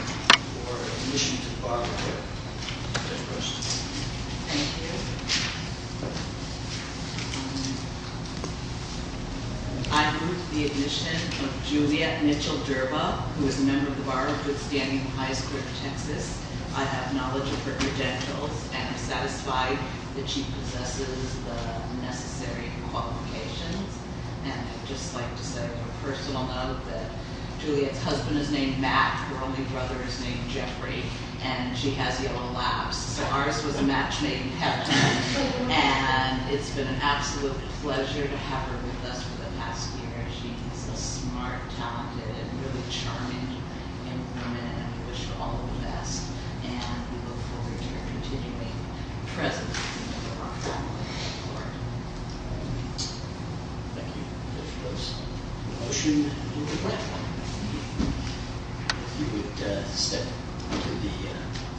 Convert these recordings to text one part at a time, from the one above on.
for admission to the Bar of Good Standing High School of Texas. Thank you. I approved the admission of Juliet Mitchell-Durba, who is a member of the Bar of Good Standing High School of Texas. I have knowledge of her credentials and am satisfied that she possesses the necessary qualifications. And I'd just like to say, first of all, that Juliet's husband is named Matt, her only brother is named Jeffrey, and she has yellow labs. So ours was a match made in heaven. And it's been an absolute pleasure to have her with us for the past year. She is a smart, talented, and really charming young woman, and we wish her all the best. And we look forward to her continuing presence in the Bar. Thank you. If there's a motion, you would step to the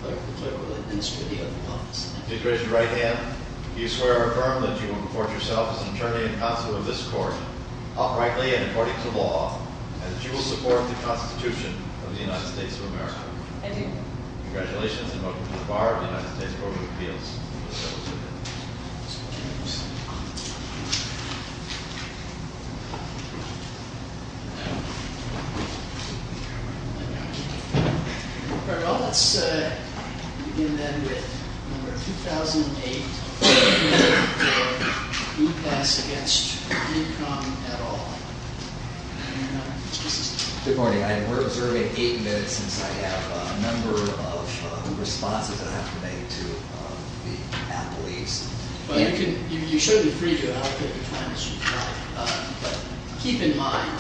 clerk. The clerk will administer the other comments. I did raise your right hand. Do you swear or affirm that you will report yourself as an attorney and counsel of this court, uprightly and according to law, and that you will support the Constitution of the United States of America? I do. Congratulations, and welcome to the Bar of the United States Court of Appeals. Thank you. All right, well, let's begin, then, with number 2008, the ruling of Blue Pass against income at all. Good morning. We're observing eight minutes since I have a number of responses that I have to make to the appellees. You should be free to allocate the time as you'd like, but keep in mind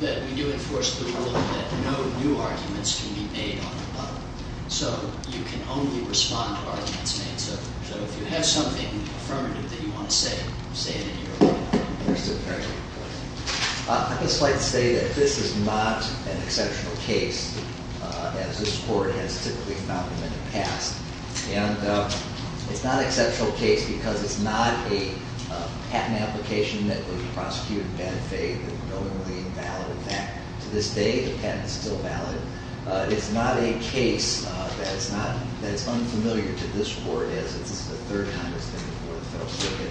that we do enforce the rule that no new arguments can be made on the bar, so you can only respond to arguments made. So if you have something affirmative that you want to say, say it in your own time. I'd just like to say that this is not an exceptional case, as this court has typically found them in the past. And it's not an exceptional case because it's not a patent application that would prosecute and benefit, that would normally invalid that. To this day, the patent is still valid. It's not a case that's unfamiliar to this court, as this is the third time it's been before the federal circuit.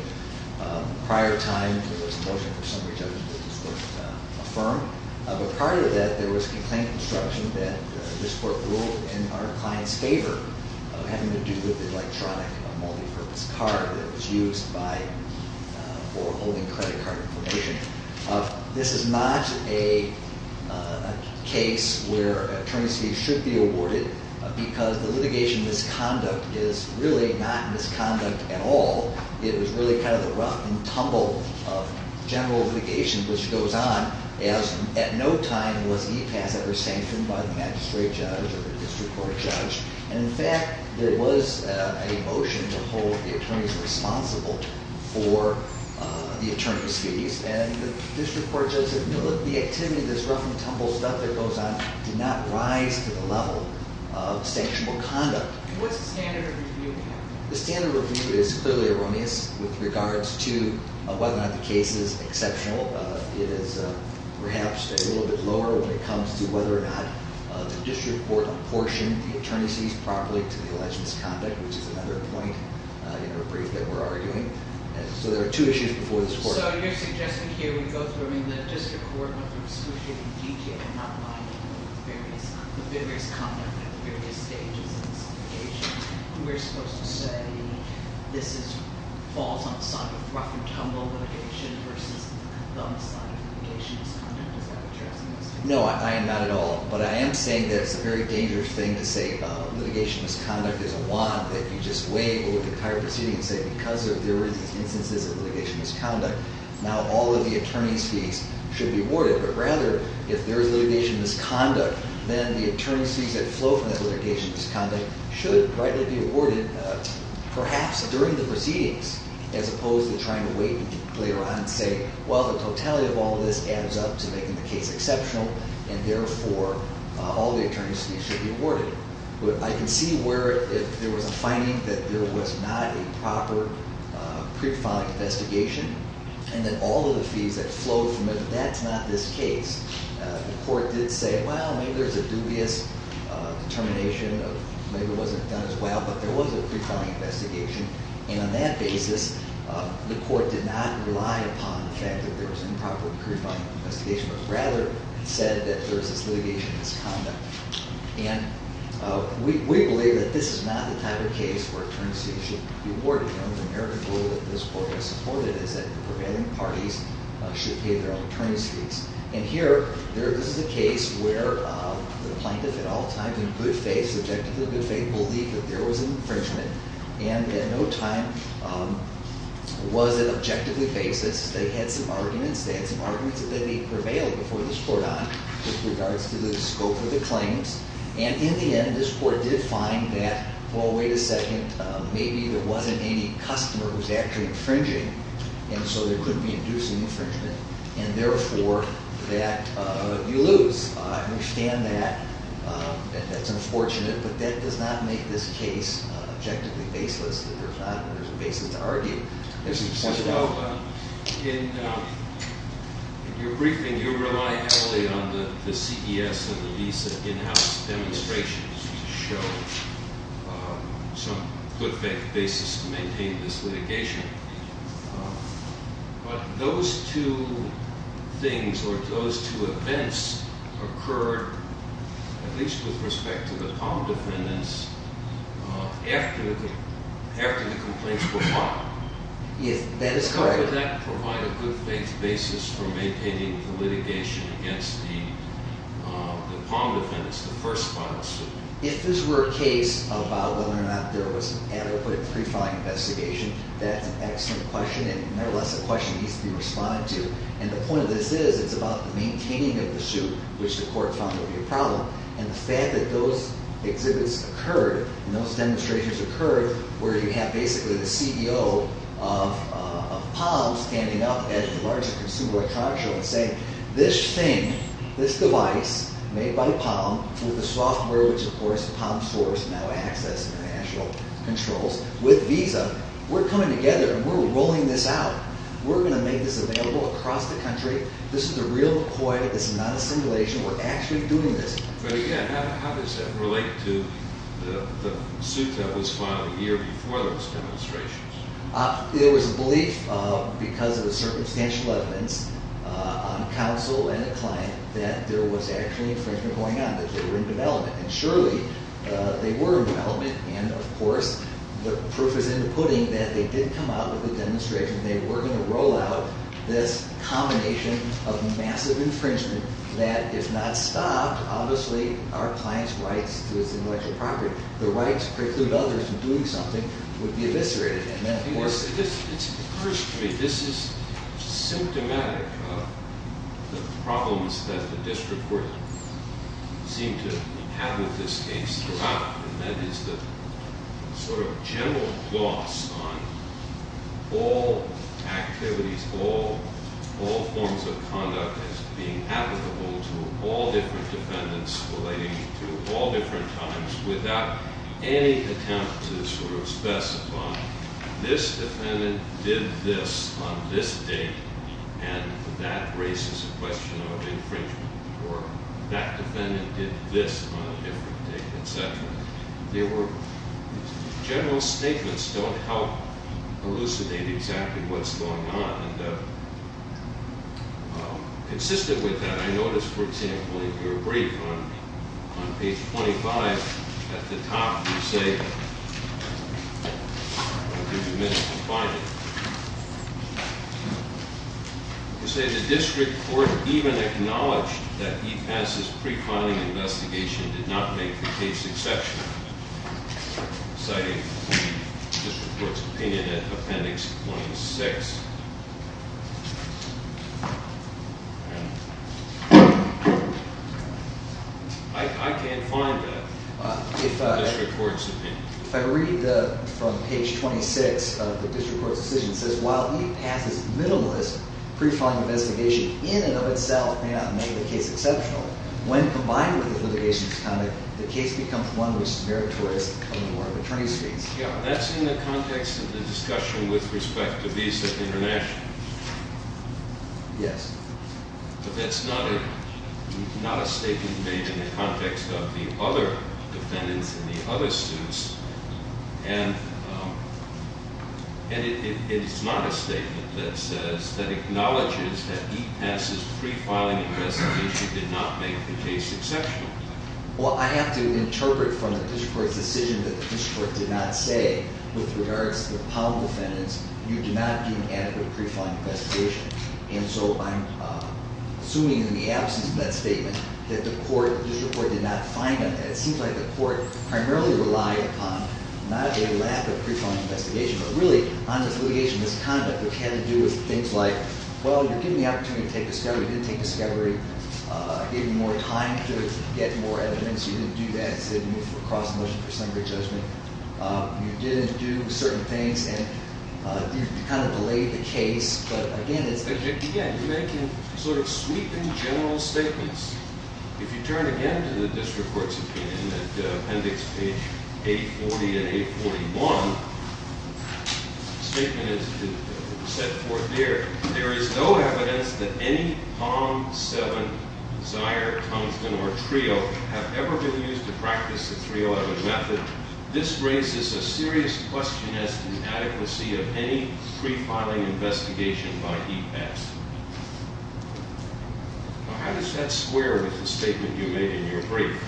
Prior time, there was a motion for summary judgment that this court affirm. But prior to that, there was a complaint construction that this court ruled in our client's favor of having to do with the electronic multi-purpose card that was used for holding credit card information. This is not a case where an attorney's fee should be awarded because the litigation misconduct is really not misconduct at all. It was really kind of the rough and tumble of general litigation, which goes on as at no time was e-pass ever sanctioned by the magistrate judge or the district court judge. And in fact, there was a motion to hold the attorneys responsible for the attorney's fees. And the district court judge said, no, look, the activity, this rough and tumble stuff that goes on, did not rise to the level of sanctionable conduct. And what's the standard of review? The standard of review is clearly erroneous with regards to whether or not the case is exceptional. It is perhaps a little bit lower when it comes to whether or not the district court apportioned the attorney's fees properly to the alleged misconduct, which is another point in our brief that we're arguing. So there are two issues before this court. So your suggestion here would go through, I mean, the district court would be excruciating detail, not minding the various conduct at the various stages of the litigation. We're supposed to say this falls on the side of rough and tumble litigation versus the other side of litigation misconduct. Is that what you're asking? No, I am not at all. But I am saying that it's a very dangerous thing to say litigation misconduct is a lot, that you just weigh over the entire proceeding and say, because there were these instances of litigation misconduct, now all of the attorney's fees should be awarded. But rather, if there is litigation misconduct, then the attorney's fees that flow from that litigation misconduct should rightly be awarded perhaps during the proceedings, as opposed to trying to wait and later on say, well, the totality of all this adds up to making the case exceptional. I can see where if there was a finding that there was not a proper pre-filing investigation, and then all of the fees that flow from it, that's not this case. The court did say, well, maybe there's a dubious determination of maybe it wasn't done as well, but there was a pre-filing investigation. And on that basis, the court did not rely upon the fact that there was an improper pre-filing investigation, but rather said that there's this litigation misconduct. And we believe that this is not the type of case where attorney's fees should be awarded. The only American rule that this court has supported is that prevailing parties should pay their own attorney's fees. And here, this is a case where the plaintiff at all times in good faith, objectively good faith, believed that there was an infringement, and at no time was it objectively based. They had some arguments. They prevailed before this court on, with regards to the scope of the claims. And in the end, this court did find that, well, wait a second, maybe there wasn't any customer who's actually infringing, and so there could be inducing infringement. And therefore, that you lose. I understand that. That's unfortunate, but that does not make this case objectively baseless. There's a basis to argue. So in your briefing, you relied heavily on the CES and the Visa in-house demonstrations to show some good faith basis to maintain this litigation. But those two things or those two events occurred, at least with respect to the Palm defendants, after the complaints were filed. Yes, that is correct. Could that provide a good faith basis for maintaining the litigation against the Palm defendants, the first-file suit? If this were a case about whether or not there was an adequate pre-filing investigation, that's an excellent question, and nevertheless, a question that needs to be responded to. And the point of this is, it's about the maintaining of the suit, which the court found to be a problem. And the fact that those exhibits occurred and those demonstrations occurred, where you have basically the CEO of Palm standing up at the larger consumer electronics show and saying, this thing, this device made by Palm, with the software which of course the Palm stores now access and the national controls, with Visa, we're coming together and we're rolling this out. We're going to make this available across the country. This is a real McCoy. This is not a simulation. We're actually doing this. But again, how does that relate to the suit that was filed a year before those demonstrations? There was a belief, because of the circumstantial evidence on counsel and the client, that there was actually infringement going on, that they were in development. And surely, they were in development, and of course, the proof is in the pudding that they did come out with a demonstration. They were going to roll out this combination of massive infringement that, if not stopped, obviously our client's rights to his intellectual property. The rights preclude others from doing something would be eviscerated. First, this is symptomatic of the problems that the district court seemed to have with this case throughout. And that is the sort of general gloss on all activities, all forms of conduct as being applicable to all different defendants relating to all different times, without any attempt to sort of specify, this defendant did this on this date, and that raises a question of infringement, or that defendant did this on a different date, et cetera. General statements don't help elucidate exactly what's going on. And consistent with that, I noticed, for example, in your brief on page 25, at the top, you say, I'll give you a minute to find it. You say, the district court even acknowledged that E-pass' pre-finding investigation did not make the case exceptional, citing the district court's opinion in appendix 26. I can't find that in the district court's opinion. If I read from page 26 of the district court's decision, it says, while E-pass' minimalist pre-finding investigation in and of itself may not make the case exceptional, when combined with the litigation's conduct, the case becomes one which is meritorious to the court of attorney's fees. Yeah, that's in the context of the discussion with respect to Visa International. Yes. But that's not a statement made in the context of the other defendants and the other suits. And it's not a statement that says, that acknowledges that E-pass' pre-filing investigation did not make the case exceptional. Well, I have to interpret from the district court's decision that the district court did not say, with regards to the Powell defendants, you do not give adequate pre-filing investigation. And so I'm assuming in the absence of that statement that the district court did not find them. It seems like the court primarily relied upon not a lack of pre-filing investigation, but really on the litigation's conduct which had to do with things like, well, you're given the opportunity to take discovery, you didn't take discovery, gave you more time to get more evidence, you didn't do that, said you moved for a cross-motion for summary judgment, you didn't do certain things, and you kind of delayed the case, but again, it's- Again, you're making sort of sweeping general statements. If you turn again to the district court's opinion, at appendix page 840 and 841, the statement is set forth there, there is no evidence that any Palm 7, Zier, Tungsten, or Trio have ever been used to practice the 3-11 method. This raises a serious question as to the adequacy of any pre-filing investigation by E-pass. Does that square with the statement you made in your brief?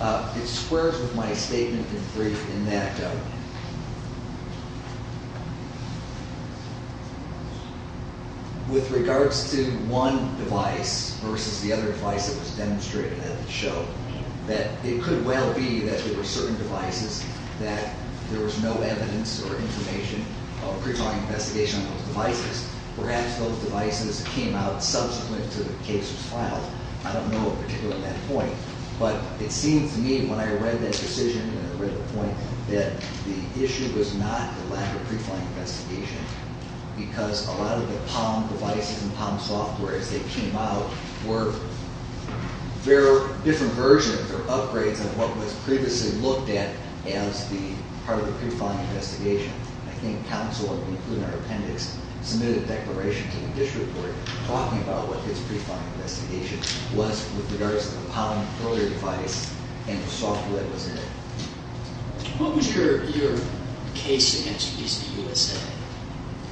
It squares with my statement in the brief in that with regards to one device versus the other device that was demonstrated at the show, that it could well be that there were certain devices that there was no evidence or information of a pre-filing investigation on those devices. Perhaps those devices came out subsequent to the case was filed. I don't know of a particular point, but it seems to me when I read that decision and I read the point, that the issue was not the lack of pre-filing investigations, because a lot of the Palm devices and Palm softwares that came out were different versions or upgrades of what was previously looked at as part of the pre-filing investigation. I think counsel, including our appendix, submitted a declaration to the district court talking about what his pre-filing investigation was with regards to the Palm earlier device and the software that was in it. What was your case against Visa USA?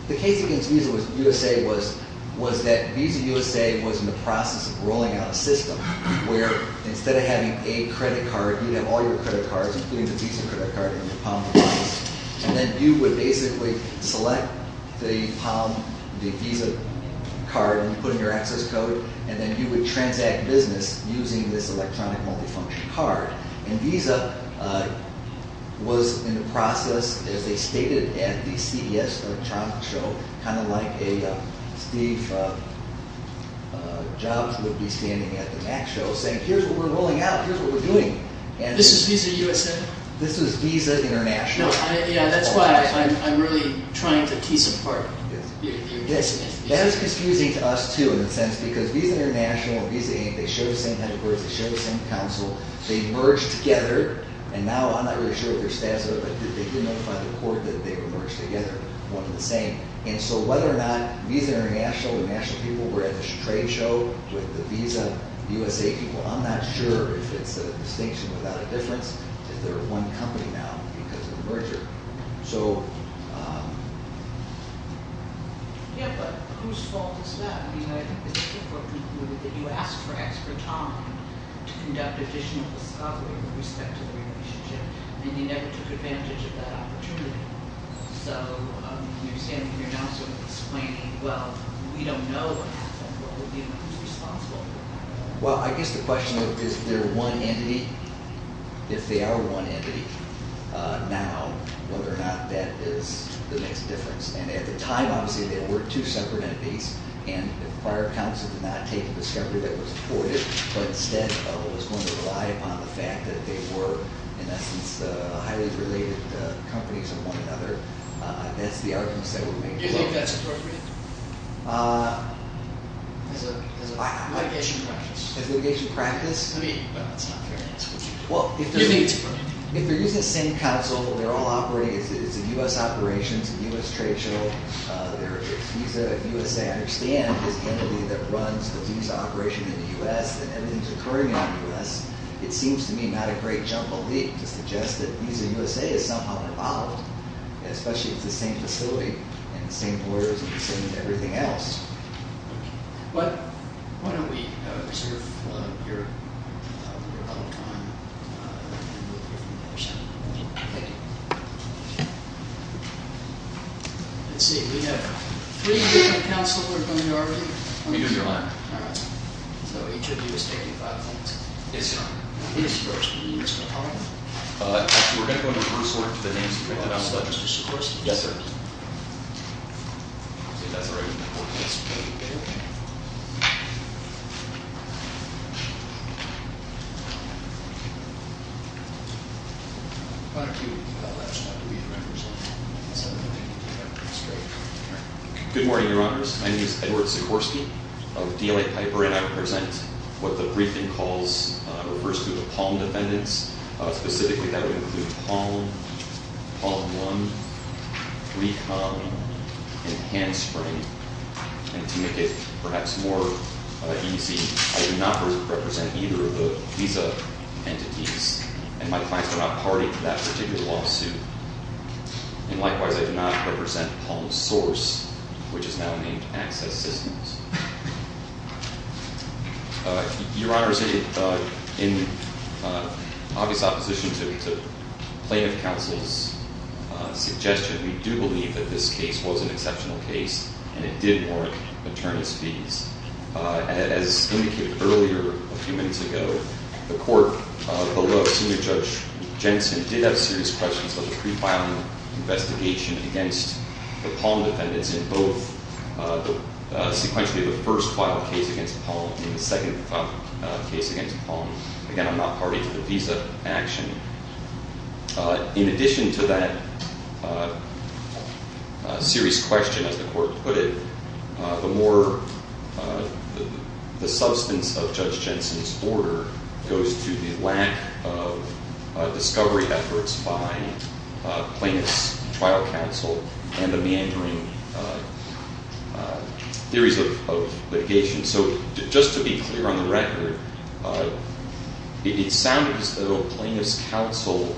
The case against Visa USA was that Visa USA was in the process of rolling out a system where instead of having a credit card, you'd have all your credit cards, including the Visa credit card in your Palm device, and then you would basically select the Palm, the Visa card, and put in your access code, and then you would transact business using this electronic multifunction card. Visa was in the process, as they stated at the CES electronic show, kind of like a Steve Jobs would be standing at the Mac show saying, here's what we're rolling out, here's what we're doing. This is Visa USA? This is Visa International. Yeah, that's why I'm really trying to piece apart. That is confusing to us, too, in a sense, because Visa International and Visa Inc., they share the same headquarters, they share the same counsel, they merged together, and now I'm not really sure what their stats are, but they did notify the court that they were merged together, one and the same. And so whether or not Visa International and national people were at this trade show with the Visa USA people, I'm not sure if it's a distinction without a difference, if they're one company now because of the merger. So... Yeah, but whose fault is that? I mean, I think it's important that you ask for extra time to conduct additional discovery with respect to the relationship, and you never took advantage of that opportunity. So you're saying that you're now sort of explaining, well, we don't know what will be responsible. Well, I guess the question is, is there one entity? If they are one entity now, whether or not that is the next difference. And at the time, obviously, they were two separate entities, and prior counsel did not take a discovery that was avoided, but instead was going to rely upon the fact that they were, in essence, highly related companies to one another. That's the argument that we're making. Do you think that's appropriate? As a... Litigation practice. As litigation practice? I mean, that's not fair answer. Well, if they're... You think it's appropriate. If they're using the same counsel, they're all operating, it's a U.S. operation, it's a U.S. trade show, their Visa USA, I understand, is the entity that runs the Visa operation in the U.S. and is occurring in the U.S., it seems to me not a great jumble leap to suggest that Visa USA is somehow involved, especially if it's the same facility and the same orders and the same everything else. Why don't we reserve your public time and we'll hear from the other side. Thank you. Let's see. We have three different counsel. We're going to go over to you. Let me go through mine. All right. So each of you is taking five points. Yes, sir. Mr. Sikorski. Mr. Palmer. Actually, we're going to go in reverse order to the names. Mr. Sikorski. Yes, sir. See, that's already important. Mr. Bailey. Good morning, Your Honors. My name is Edward Sikorski of DLA Piper, and I represent what the briefing calls, refers to the Palm defendants. Specifically, that would include Palm, Palm One, Recon, and Handspring. And to make it perhaps more easy, I do not represent either of the Visa entities, and my clients are not party to that particular lawsuit. And likewise, I do not represent Palm's source, which is now named Access Systems. Your Honors, in obvious opposition to plaintiff counsel's suggestion, we do believe that this case was an exceptional case, and it did warrant attorneys' fees. As indicated earlier a few minutes ago, the court below Senior Judge Jensen did have serious questions about the pre-filing investigation against the Palm defendants in both sequentially the first filed case against Palm and the second filed case against Palm. Again, I'm not party to the Visa action. In addition to that serious question, as the court put it, the more the substance of Judge Jensen's order goes to the lack of discovery efforts by plaintiff's trial counsel and the meandering theories of litigation. So just to be clear on the record, it sounded as though plaintiff's counsel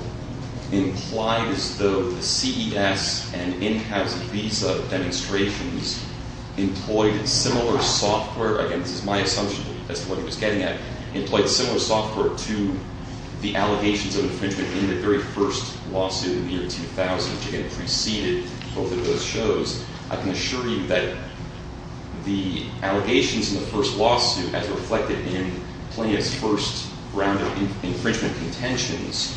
implied as though the CES and in-house Visa demonstrations employed similar software. Again, this is my assumption as to what he was getting at, employed similar software to the allegations of infringement in the very first lawsuit in the year 2000, which, again, preceded both of those shows. I can assure you that the allegations in the first lawsuit, as reflected in plaintiff's first round of infringement contentions,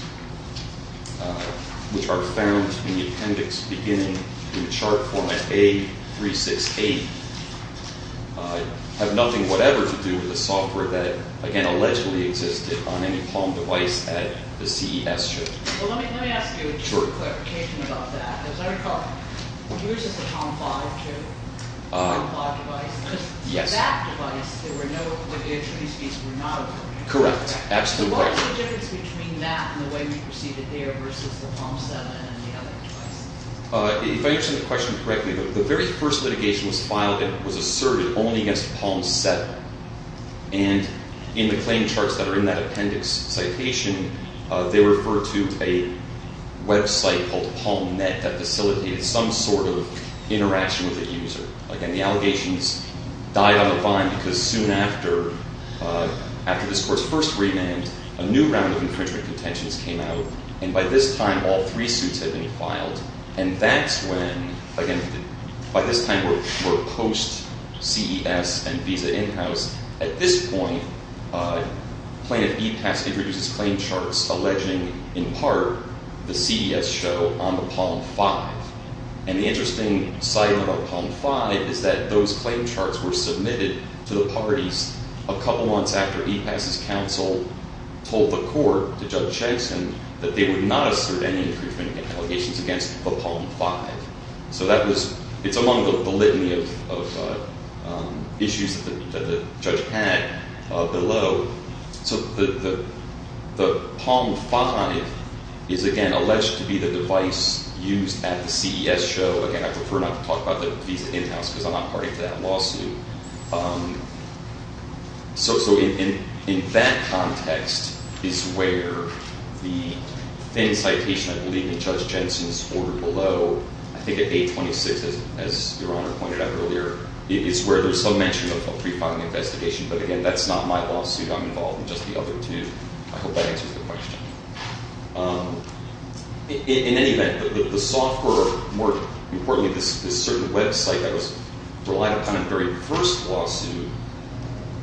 which are found in the appendix beginning in the chart format A368, have nothing whatever to do with the software that, again, allegedly existed on any Palm device at the CES show. Well, let me ask you a clarification about that. As I recall, yours is the Palm 5, too, the Palm 5 device. Yes. That device, the attorney's fees were not appropriate. Correct. Absolutely correct. What was the difference between that and the way we perceived it there versus the Palm 7 and the other devices? If I understand the question correctly, the very first litigation was filed and was asserted only against Palm 7. And in the claim charts that are in that appendix citation, they refer to a website called PalmNet that facilitated some sort of interaction with the user. Again, the allegations died on the vine because soon after this court's first remand, a new round of infringement contentions came out. And by this time, all three suits had been filed. And that's when, again, by this time we're post-CES and visa in-house. At this point, plaintiff Epass introduces claim charts alleging, in part, the CDS show on the Palm 5. And the interesting side of our Palm 5 is that those claim charts were submitted to the parties a couple months after Epass's counsel told the court, to Judge Chagsin, that they would not assert any infringement allegations against the Palm 5. So it's among the litany of issues that the judge had below. So the Palm 5 is, again, alleged to be the device used at the CES show. Again, I prefer not to talk about the visa in-house because I'm not party to that lawsuit. So in that context is where the incitation, I believe, in Judge Jensen's order below, I think at 826, as Your Honor pointed out earlier, is where there's some mention of a pre-filing investigation. But again, that's not my lawsuit. I'm involved in just the other two. I hope that answers your question. In any event, the software, more importantly, this certain website that was relied upon in the very first lawsuit,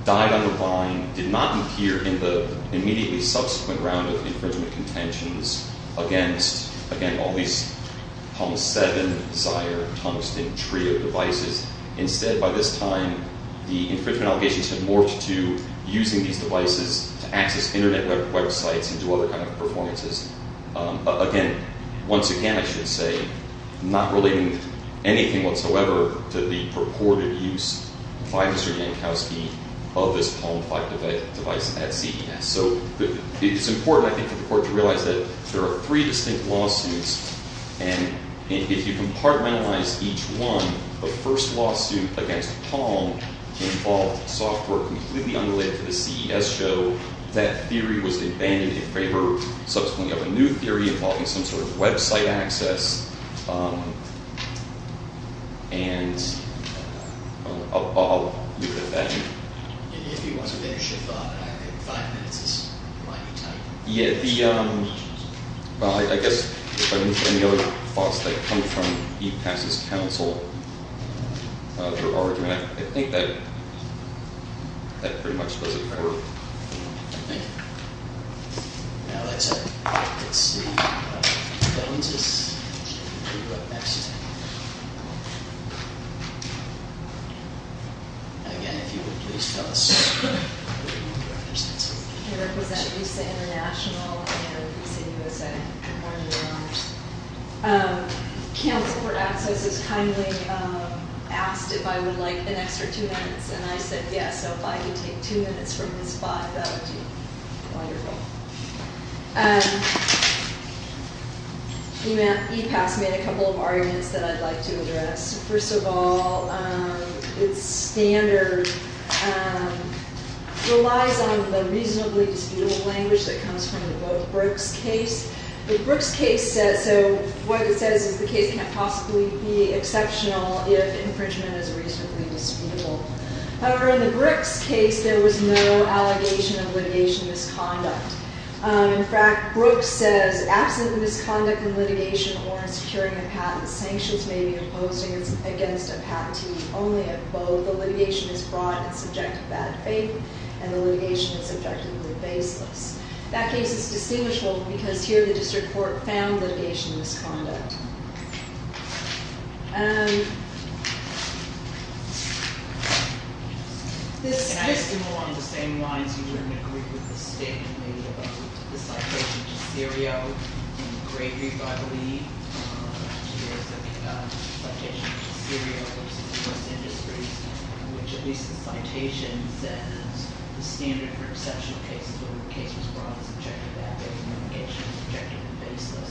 died on the vine, did not appear in the immediately subsequent round of infringement contentions against, again, all these Palm 7, Zyre, Tungsten, TRIO devices. Instead, by this time, the infringement allegations had morphed to using these devices to access internet websites and do other kind of performances. Again, once again, I should say, not relating anything whatsoever to the purported use by Mr. Yankowski of this Palm 5 device at CES. So it's important, I think, for the Court to realize that there are three distinct lawsuits. And if you compartmentalize each one, the first lawsuit against Palm involved software completely unrelated to the CES show. That theory was abandoned in favor, subsequently, of a new theory involving some sort of website access. And I'll leave it at that. If you want to finish your thought, I have five minutes. I guess, any other thoughts that come from E-PASS's counsel, their argument, I think that pretty much does it for me. Thank you. Now, that's it. Let's see. That one's just... Again, if you would please tell us... Pardon me, Your Honor. Counsel for Access has kindly asked if I would like an extra two minutes. And I said yes. So if I could take two minutes from Ms. 5, that would be wonderful. E-PASS made a couple of arguments that I'd like to address. First of all, its standard relies on the reasonably disputable language that comes from the Brooke's case. With Brooke's case, so what it says is the case can't possibly be exceptional if infringement is reasonably disputable. However, in the Brooke's case, there was no allegation of litigation misconduct. In fact, Brooke says, absent the misconduct in litigation or in securing a patent, sanctions may be imposed against a patentee only if both the litigation is brought in subject to bad faith and the litigation is subjectively baseless. That case is distinguishable because here the district court found litigation misconduct. This... Can I just move along the same lines you were in agreement with the statement made about the citation to Cereo in the Gregory, I believe. There's a citation to Cereo, which is the first industry, which at least the citation says the standard for exceptional cases where the case was brought in subject to bad faith and the litigation is subjectively baseless.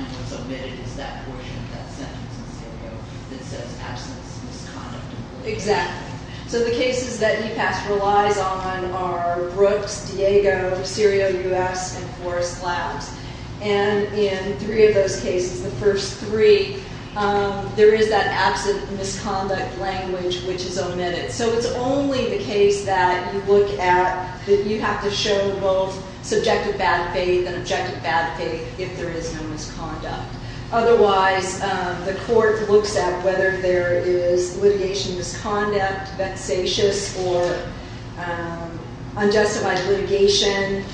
And what's omitted is that portion of that sentence in Cereo that says absence of misconduct. So the cases that E-PASS relies on are Brooke's, Diego, Cereo U.S., and Forrest's Labs. And in three of those cases, the first three, there is that absent misconduct language, which is omitted. So it's only the case that you look at that you have to show both subjective bad faith and objective bad faith if there is no misconduct. Otherwise, the court looks at whether there is litigation misconduct, vexatious or unjustified litigation,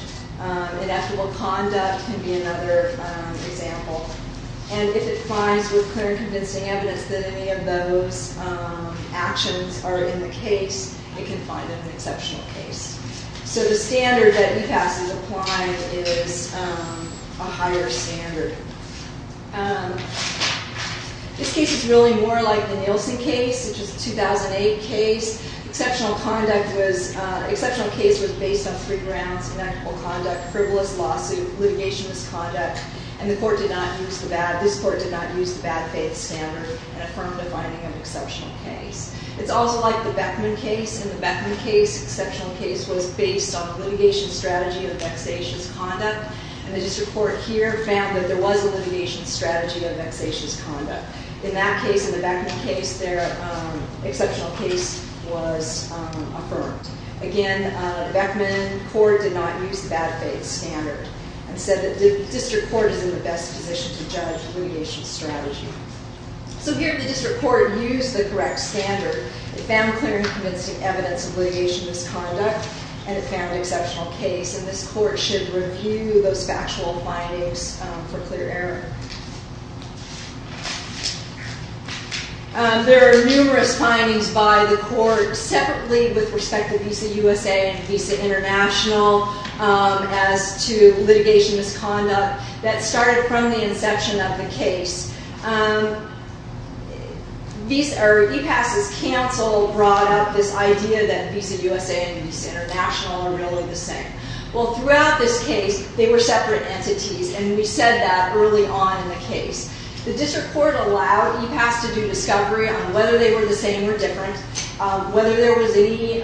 ineffable conduct can be another example. And if it finds with clear and convincing evidence that any of those actions are in the case, it can find an exceptional case. So the standard that E-PASS is applying is a higher standard. This case is really more like the Nielsen case, which is a 2008 case. Exceptional case was based on three grounds, ineffable conduct, frivolous lawsuit, litigation misconduct. And this court did not use the bad faith standard in affirmative finding of exceptional case. It's also like the Beckman case. In the Beckman case, exceptional case was based on litigation strategy of vexatious conduct. And the district court here found that there was a litigation strategy of vexatious conduct. In that case, in the Beckman case, their exceptional case was affirmed. Again, the Beckman court did not use the bad faith standard and said that the district court is in the best position to judge litigation strategy. So here the district court used the correct standard. It found clear and convincing evidence of litigation misconduct and it found exceptional case. And this court should review those factual findings for clear error. There are numerous findings by the court separately with respect to Visa USA and Visa International as to litigation misconduct. That started from the inception of the case. E-PASS's counsel brought up this idea that Visa USA and Visa International are really the same. Well, throughout this case, they were separate entities and we said that early on in the case. The district court allowed E-PASS to do discovery on whether they were the same or different, whether there was any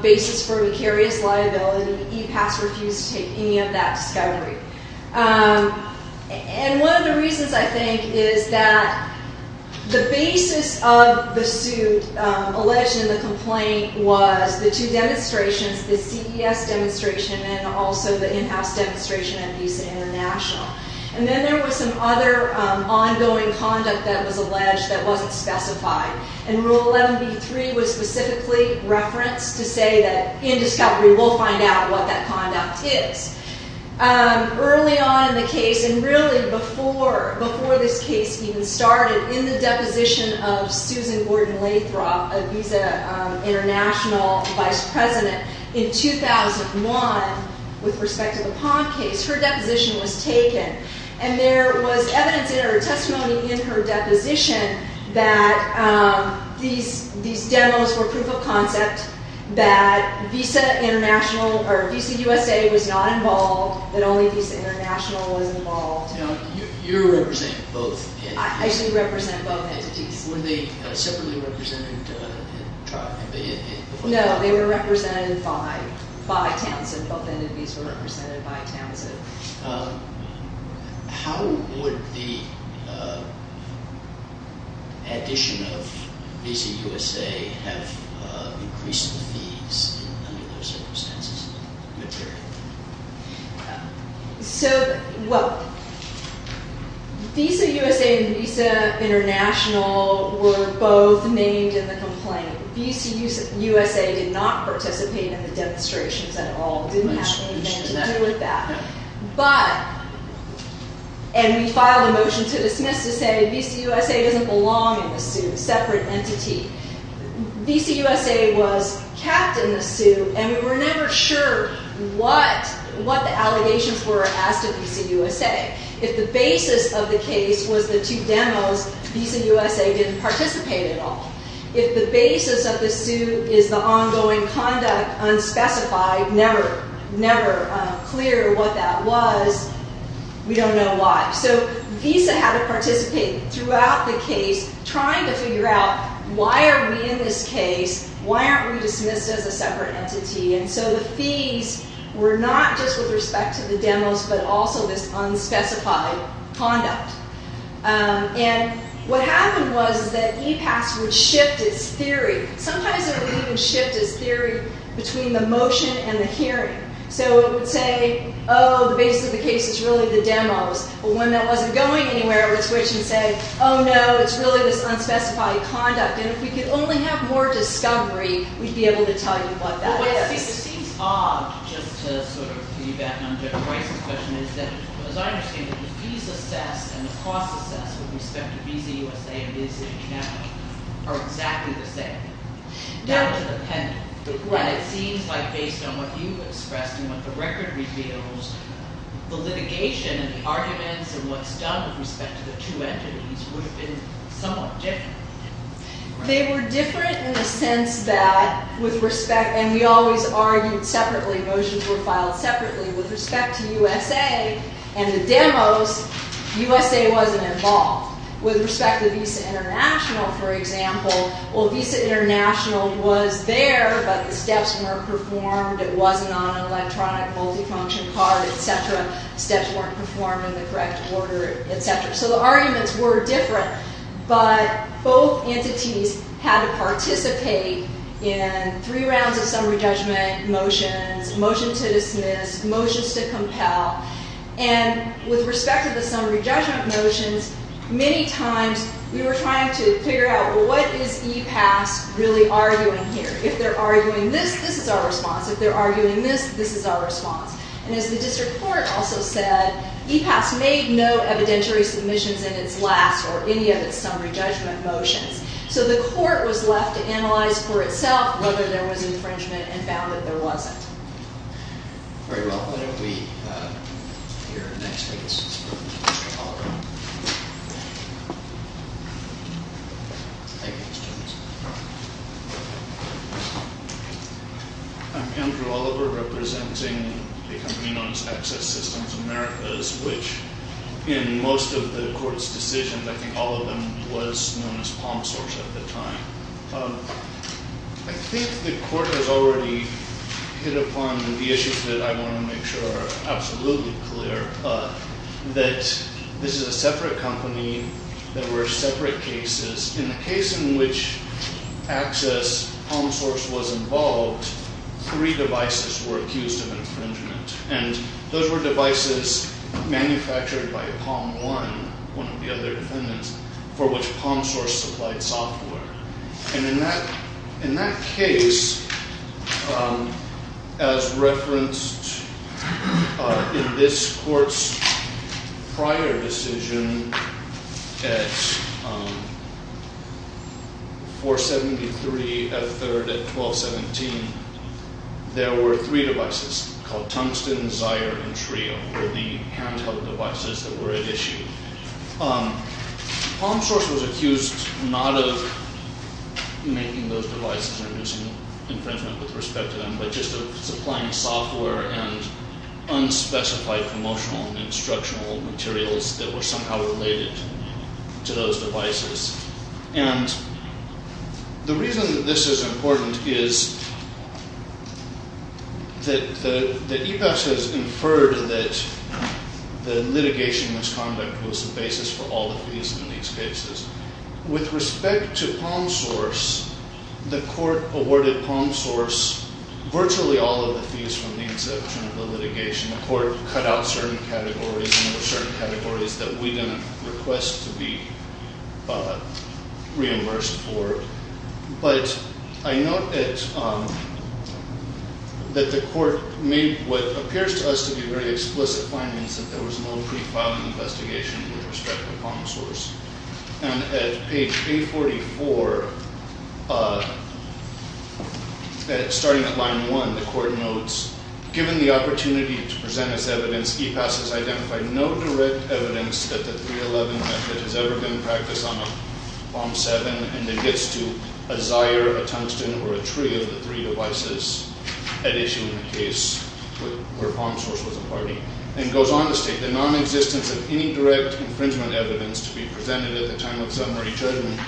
basis for vicarious liability. E-PASS refused to take any of that discovery. And one of the reasons, I think, is that the basis of the suit alleged in the complaint was the two demonstrations, the CES demonstration and also the in-house demonstration at Visa International. And then there was some other ongoing conduct that was alleged that wasn't specified. And Rule 11b-3 was specifically referenced to say that in discovery we'll find out what that conduct is. Early on in the case and really before this case even started, in the deposition of Susan Gordon-Lathrop, a Visa International vice president, in 2001, with respect to the Pond case, her deposition was taken. And there was evidence or testimony in her deposition that these demos were proof of concept, that Visa International or Visa USA was not involved, that only Visa International was involved. Now, you represent both entities. I actually represent both entities. Were they separately represented in trial? No, they were represented by Townsend. Both entities were represented by Townsend. How would the addition of Visa USA have increased the fees under those circumstances? So, well, Visa USA and Visa International were both named in the complaint. Visa USA did not participate in the demonstrations at all. It didn't have anything to do with that. But, and we filed a motion to dismiss to say Visa USA doesn't belong in the suit, a separate entity. Visa USA was kept in the suit and we were never sure what the allegations were as to Visa USA. If the basis of the case was the two demos, Visa USA didn't participate at all. If the basis of the suit is the ongoing conduct unspecified, never clear what that was, we don't know why. So, Visa had to participate throughout the case trying to figure out why are we in this case? Why aren't we dismissed as a separate entity? And so the fees were not just with respect to the demos but also this unspecified conduct. And what happened was that EPAS would shift its theory. Sometimes it would even shift its theory between the motion and the hearing. So it would say, oh, the basis of the case is really the demos. But when that wasn't going anywhere, it would switch and say, oh, no, it's really this unspecified conduct. And if we could only have more discovery, we'd be able to tell you what that is. Well, one thing that seems odd, just to sort of feed back on Judge Weiss' question, is that, as I understand it, the fees assessed and the costs assessed with respect to Visa USA and Visa Union Capital are exactly the same. No. Down to the penalty. Right. But it seems like, based on what you expressed and what the record reveals, the litigation and the arguments and what's done with respect to the two entities would have been somewhat different. They were different in the sense that, with respect – and we always argued separately. Motions were filed separately. With respect to USA and the demos, USA wasn't involved. With respect to Visa International, for example, well, Visa International was there, but the steps weren't performed. It wasn't on an electronic multifunction card, et cetera. Steps weren't performed in the correct order, et cetera. So the arguments were different. But both entities had to participate in three rounds of summary judgment motions, motions to dismiss, motions to compel. And with respect to the summary judgment motions, many times we were trying to figure out, well, what is EPAS really arguing here? If they're arguing this, this is our response. If they're arguing this, this is our response. And as the district court also said, EPAS made no evidentiary submissions in its last or any of its summary judgment motions. So the court was left to analyze for itself whether there was infringement and found that there wasn't. Very well. Why don't we hear the next case? Mr. Oliver. I'm Andrew Oliver, representing the company known as Access Systems Americas, which in most of the court's decisions, I think all of them, was known as Palm Source at the time. I think the court has already hit upon the issues that I want to make sure are absolutely clear, that this is a separate company. There were separate cases. In the case in which Access Palm Source was involved, three devices were accused of infringement. And those were devices manufactured by Palm One, one of the other defendants, for which Palm Source supplied software. And in that case, as referenced in this court's prior decision at 473 at 3rd at 1217, there were three devices called Tungsten, Zire, and Trio, were the handheld devices that were at issue. Palm Source was accused not of making those devices or infringement with respect to them, but just of supplying software and unspecified promotional and instructional materials that were somehow related to those devices. And the reason that this is important is that EPEX has inferred that the litigation misconduct was the basis for all the fees in these cases. With respect to Palm Source, the court awarded Palm Source virtually all of the fees from the exception of the litigation. The court cut out certain categories, and there were certain categories that we didn't request to be reimbursed for. But I note that the court made what appears to us to be very explicit findings, that there was no pre-filed investigation with respect to Palm Source. And at page 844, starting at line 1, the court notes, Given the opportunity to present as evidence, EPAS has identified no direct evidence that the 311 method has ever been practiced on a Palm 7, and it gets to a Zire, a Tungsten, or a Trio of the three devices at issue in the case where Palm Source was a party. And it goes on to state, The non-existence of any direct infringement evidence to be presented at the time of summary judgment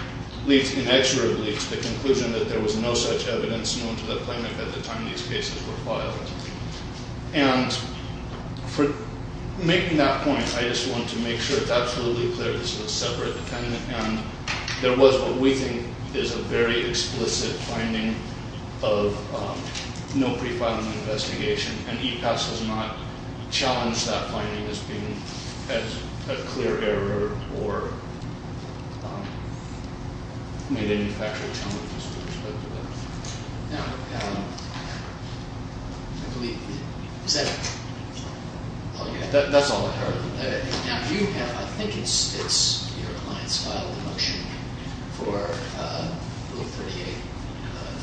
leads inexorably to the conclusion that there was no such evidence known to the plaintiff at the time these cases were filed. And for making that point, I just want to make sure it's absolutely clear this was a separate defendant, and there was what we think is a very explicit finding of no pre-filing investigation, and EPAS has not challenged that finding as being a clear error or made any factual challenges with respect to that. Now, I believe, is that all you had? You have, I think it's your client's file, the motion for Bill 38.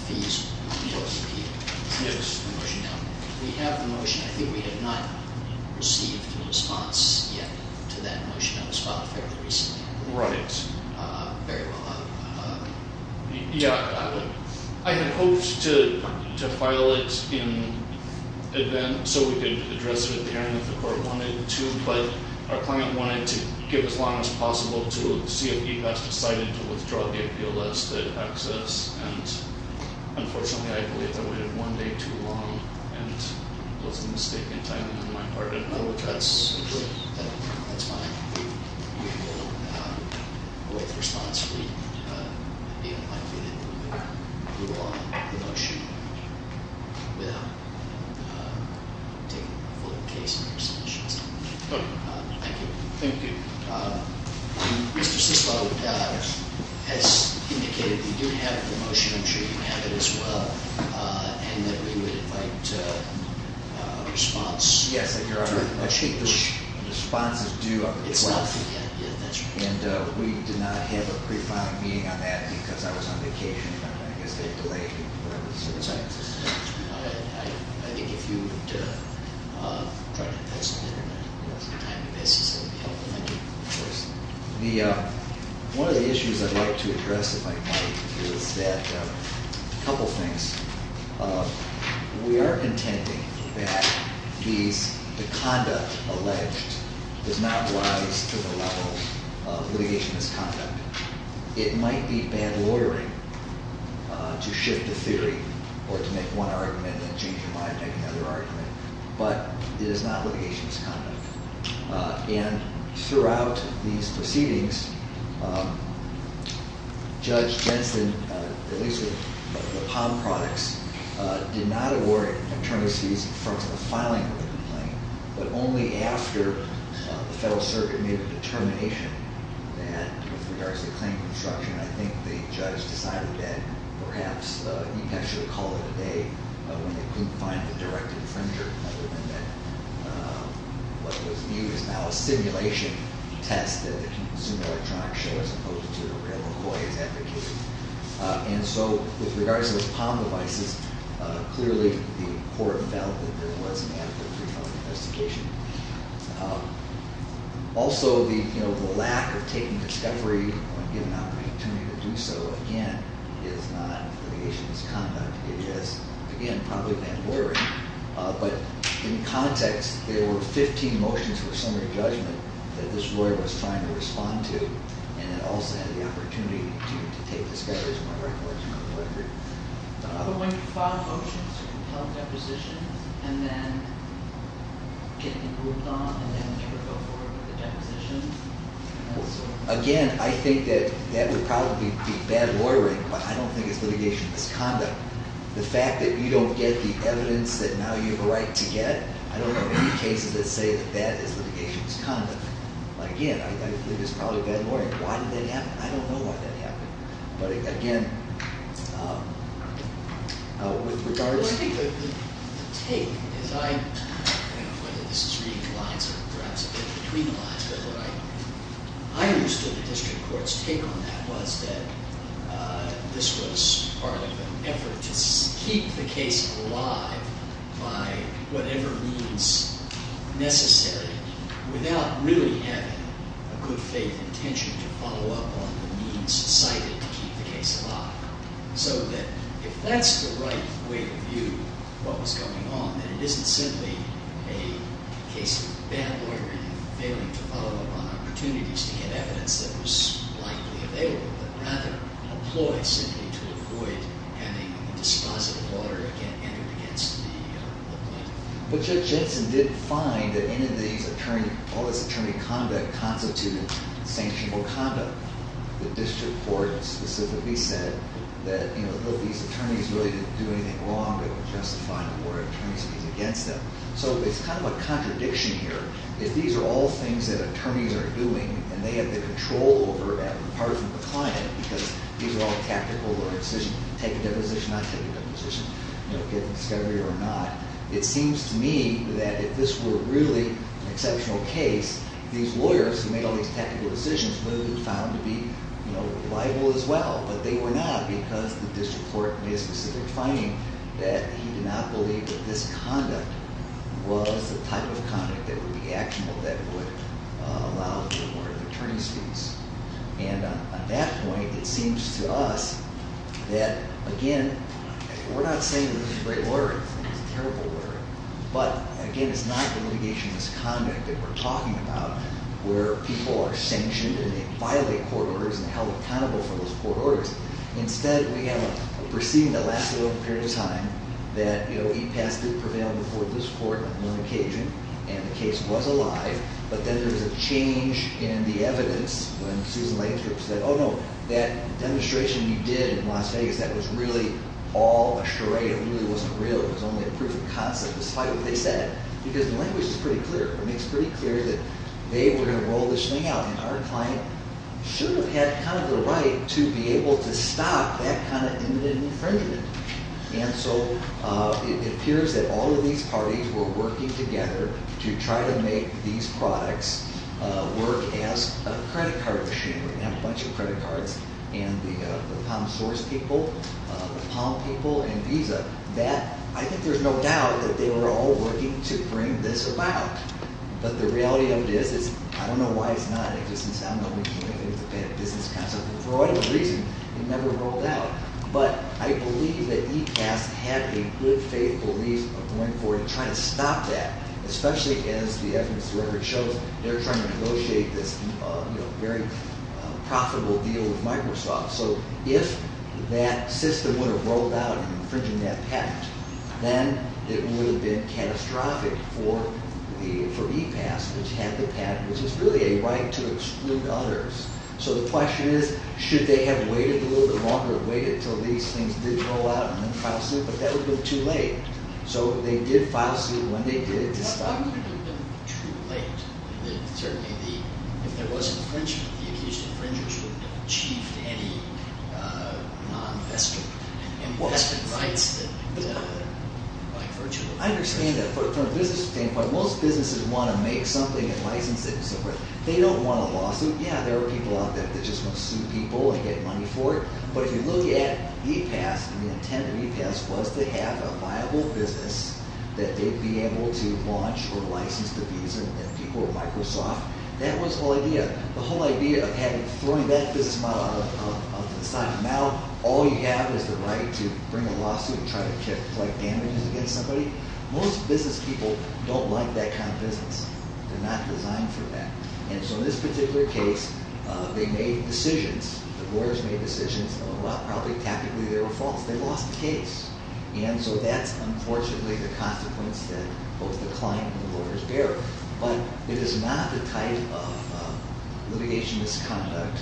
The motion now, we have the motion. I think we have not received a response yet to that motion. That was filed fairly recently. Right. Very well. Yeah. I had hoped to file it in advance so we could address it at the hearing if the court wanted to, but our client wanted to give as long as possible to see if EPAS decided to withdraw the appeal as to access. And unfortunately, I believe I waited one day too long and was mistaken in timing on my part. No, that's fine. We will wait for a response. We'd be unlikely to move on the motion without taking a full case in our submissions. Okay. Thank you. Thank you. Mr. Siscoe has indicated we do have the motion. I'm sure you have it as well, and that we would invite a response. Yes, Your Honor. I think the response is due on the 12th. It's not due yet. Yeah, that's right. And we did not have a pre-filing meeting on that because I was on vacation. I guess they delayed me. That's right. I think if you would try to postpone it on a time basis, that would be helpful. Thank you. Of course. One of the issues I'd like to address, if I might, is that a couple things. We are contending that the conduct alleged does not rise to the level of litigation misconduct. It might be bad lawyering to shift the theory or to make one argument and then change your mind and make another argument. But it is not litigation misconduct. And throughout these proceedings, Judge Jensen, at least with the POM products, did not award attorneys fees in front of the filing of the complaint. But only after the Federal Circuit made a determination that, with regards to claim construction, I think the judge decided that perhaps he'd actually call it a day when they couldn't find a direct infringer. Other than that, what was viewed as now a simulation test that the Consumer Electronics Show, as opposed to the real McCoy, is advocating. And so, with regards to those POM devices, clearly the court felt that there was an adequate pre-filing investigation. Also, the lack of taking discovery on giving out an attorney to do so, again, is not litigation misconduct. It is, again, probably bad lawyering. But in context, there were 15 motions for summary judgment that this lawyer was trying to respond to. And it also had the opportunity to take discovery as well, right? But when you file a motion to compel a deposition, and then get it moved on, and then you go forward with the deposition. Again, I think that that would probably be bad lawyering. But I don't think it's litigation misconduct. The fact that you don't get the evidence that now you have a right to get, I don't know of any cases that say that that is litigation misconduct. But again, I think it's probably bad lawyering. Why did that happen? I don't know why that happened. But again, with regards to- I don't know whether this is reading the lines or perhaps a bit between the lines. But what I understood the district court's take on that was that this was part of an effort to keep the case alive by whatever means necessary, without really having a good faith intention to follow up on the means cited to keep the case alive. So that if that's the right way to view what was going on, then it isn't simply a case of bad lawyering and failing to follow up on opportunities to get evidence that was likely available, but rather an employee simply to avoid having a dispositive lawyer enter against the employee. But Judge Jensen did find that in any of these, all this attorney conduct constituted sanctionable conduct. The district court specifically said that these attorneys really didn't do anything wrong. They were justifying the war of attorneys against them. So it's kind of a contradiction here. If these are all things that attorneys are doing and they have the control over that, apart from the client, because these are all tactical decisions. Take a deposition, not take a deposition. You know, get the discovery or not. It seems to me that if this were really an exceptional case, these lawyers who made all these tactical decisions would have been found to be liable as well. But they were not because the district court made a specific finding that he did not believe that this conduct was the type of conduct that would be actionable, that would allow for the war of attorney suits. And on that point, it seems to us that, again, we're not saying that this is great lawyering. It's terrible lawyering. But, again, it's not the litigationless conduct that we're talking about where people are sanctioned and they violate court orders and held accountable for those court orders. Instead, we have a proceeding that lasted over a period of time that, you know, E-Pass did prevail before this court on one occasion, and the case was alive. But then there was a change in the evidence when Susan Langstroth said, oh, no, that demonstration you did in Las Vegas, that was really all a charade. It really wasn't real. It was only a proof of concept, despite what they said, because the language is pretty clear. It makes pretty clear that they were going to roll this thing out, and our client should have had kind of the right to be able to stop that kind of imminent infringement. And so it appears that all of these parties were working together to try to make these products work as a credit card machinery, and have a bunch of credit cards, and the Palm Source people, the Palm people, and Visa, that I think there's no doubt that they were all working to bring this about. But the reality of it is, I don't know why it's not in existence. I don't know if it's a bad business concept. For whatever reason, it never rolled out. But I believe that E-Pass had a good faith belief of going forward and trying to stop that, especially as the evidence to record shows. They're trying to negotiate this very profitable deal with Microsoft. So if that system would have rolled out infringing that patent, then it would have been catastrophic for E-Pass, which had the patent, which is really a right to exclude others. So the question is, should they have waited a little bit longer, waited until these things did roll out, and then filed suit? But that would have been too late. So they did file suit when they did. It would have been too late. Certainly, if there was infringement, the accused infringers wouldn't have achieved any non-investment rights. I understand that from a business standpoint, most businesses want to make something and license it and so forth. They don't want a lawsuit. Yeah, there are people out there that just want to sue people and get money for it. But if you look at E-Pass and the intent of E-Pass was to have a viable business that they'd be able to launch or license the visa and people at Microsoft, that was the whole idea. The whole idea of throwing that business model out of design. Now all you have is the right to bring a lawsuit and try to collect damages against somebody. Most business people don't like that kind of business. They're not designed for that. And so in this particular case, they made decisions. The lawyers made decisions. While probably tactically they were false, they lost the case. And so that's unfortunately the consequence that both the client and the lawyers bear. But it is not the type of litigation misconduct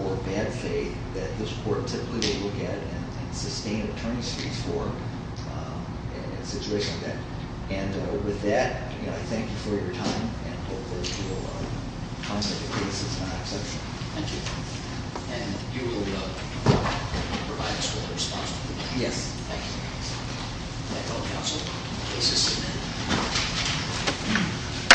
or bad faith that this court typically will look at and sustain attorney's fees for in a situation like that. And with that, I thank you for your time. And I hope that your concept of the case is not exceptional. Thank you. And you will provide us with a response to the case. Yes. Thank you. Thank you, counsel. The case is submitted.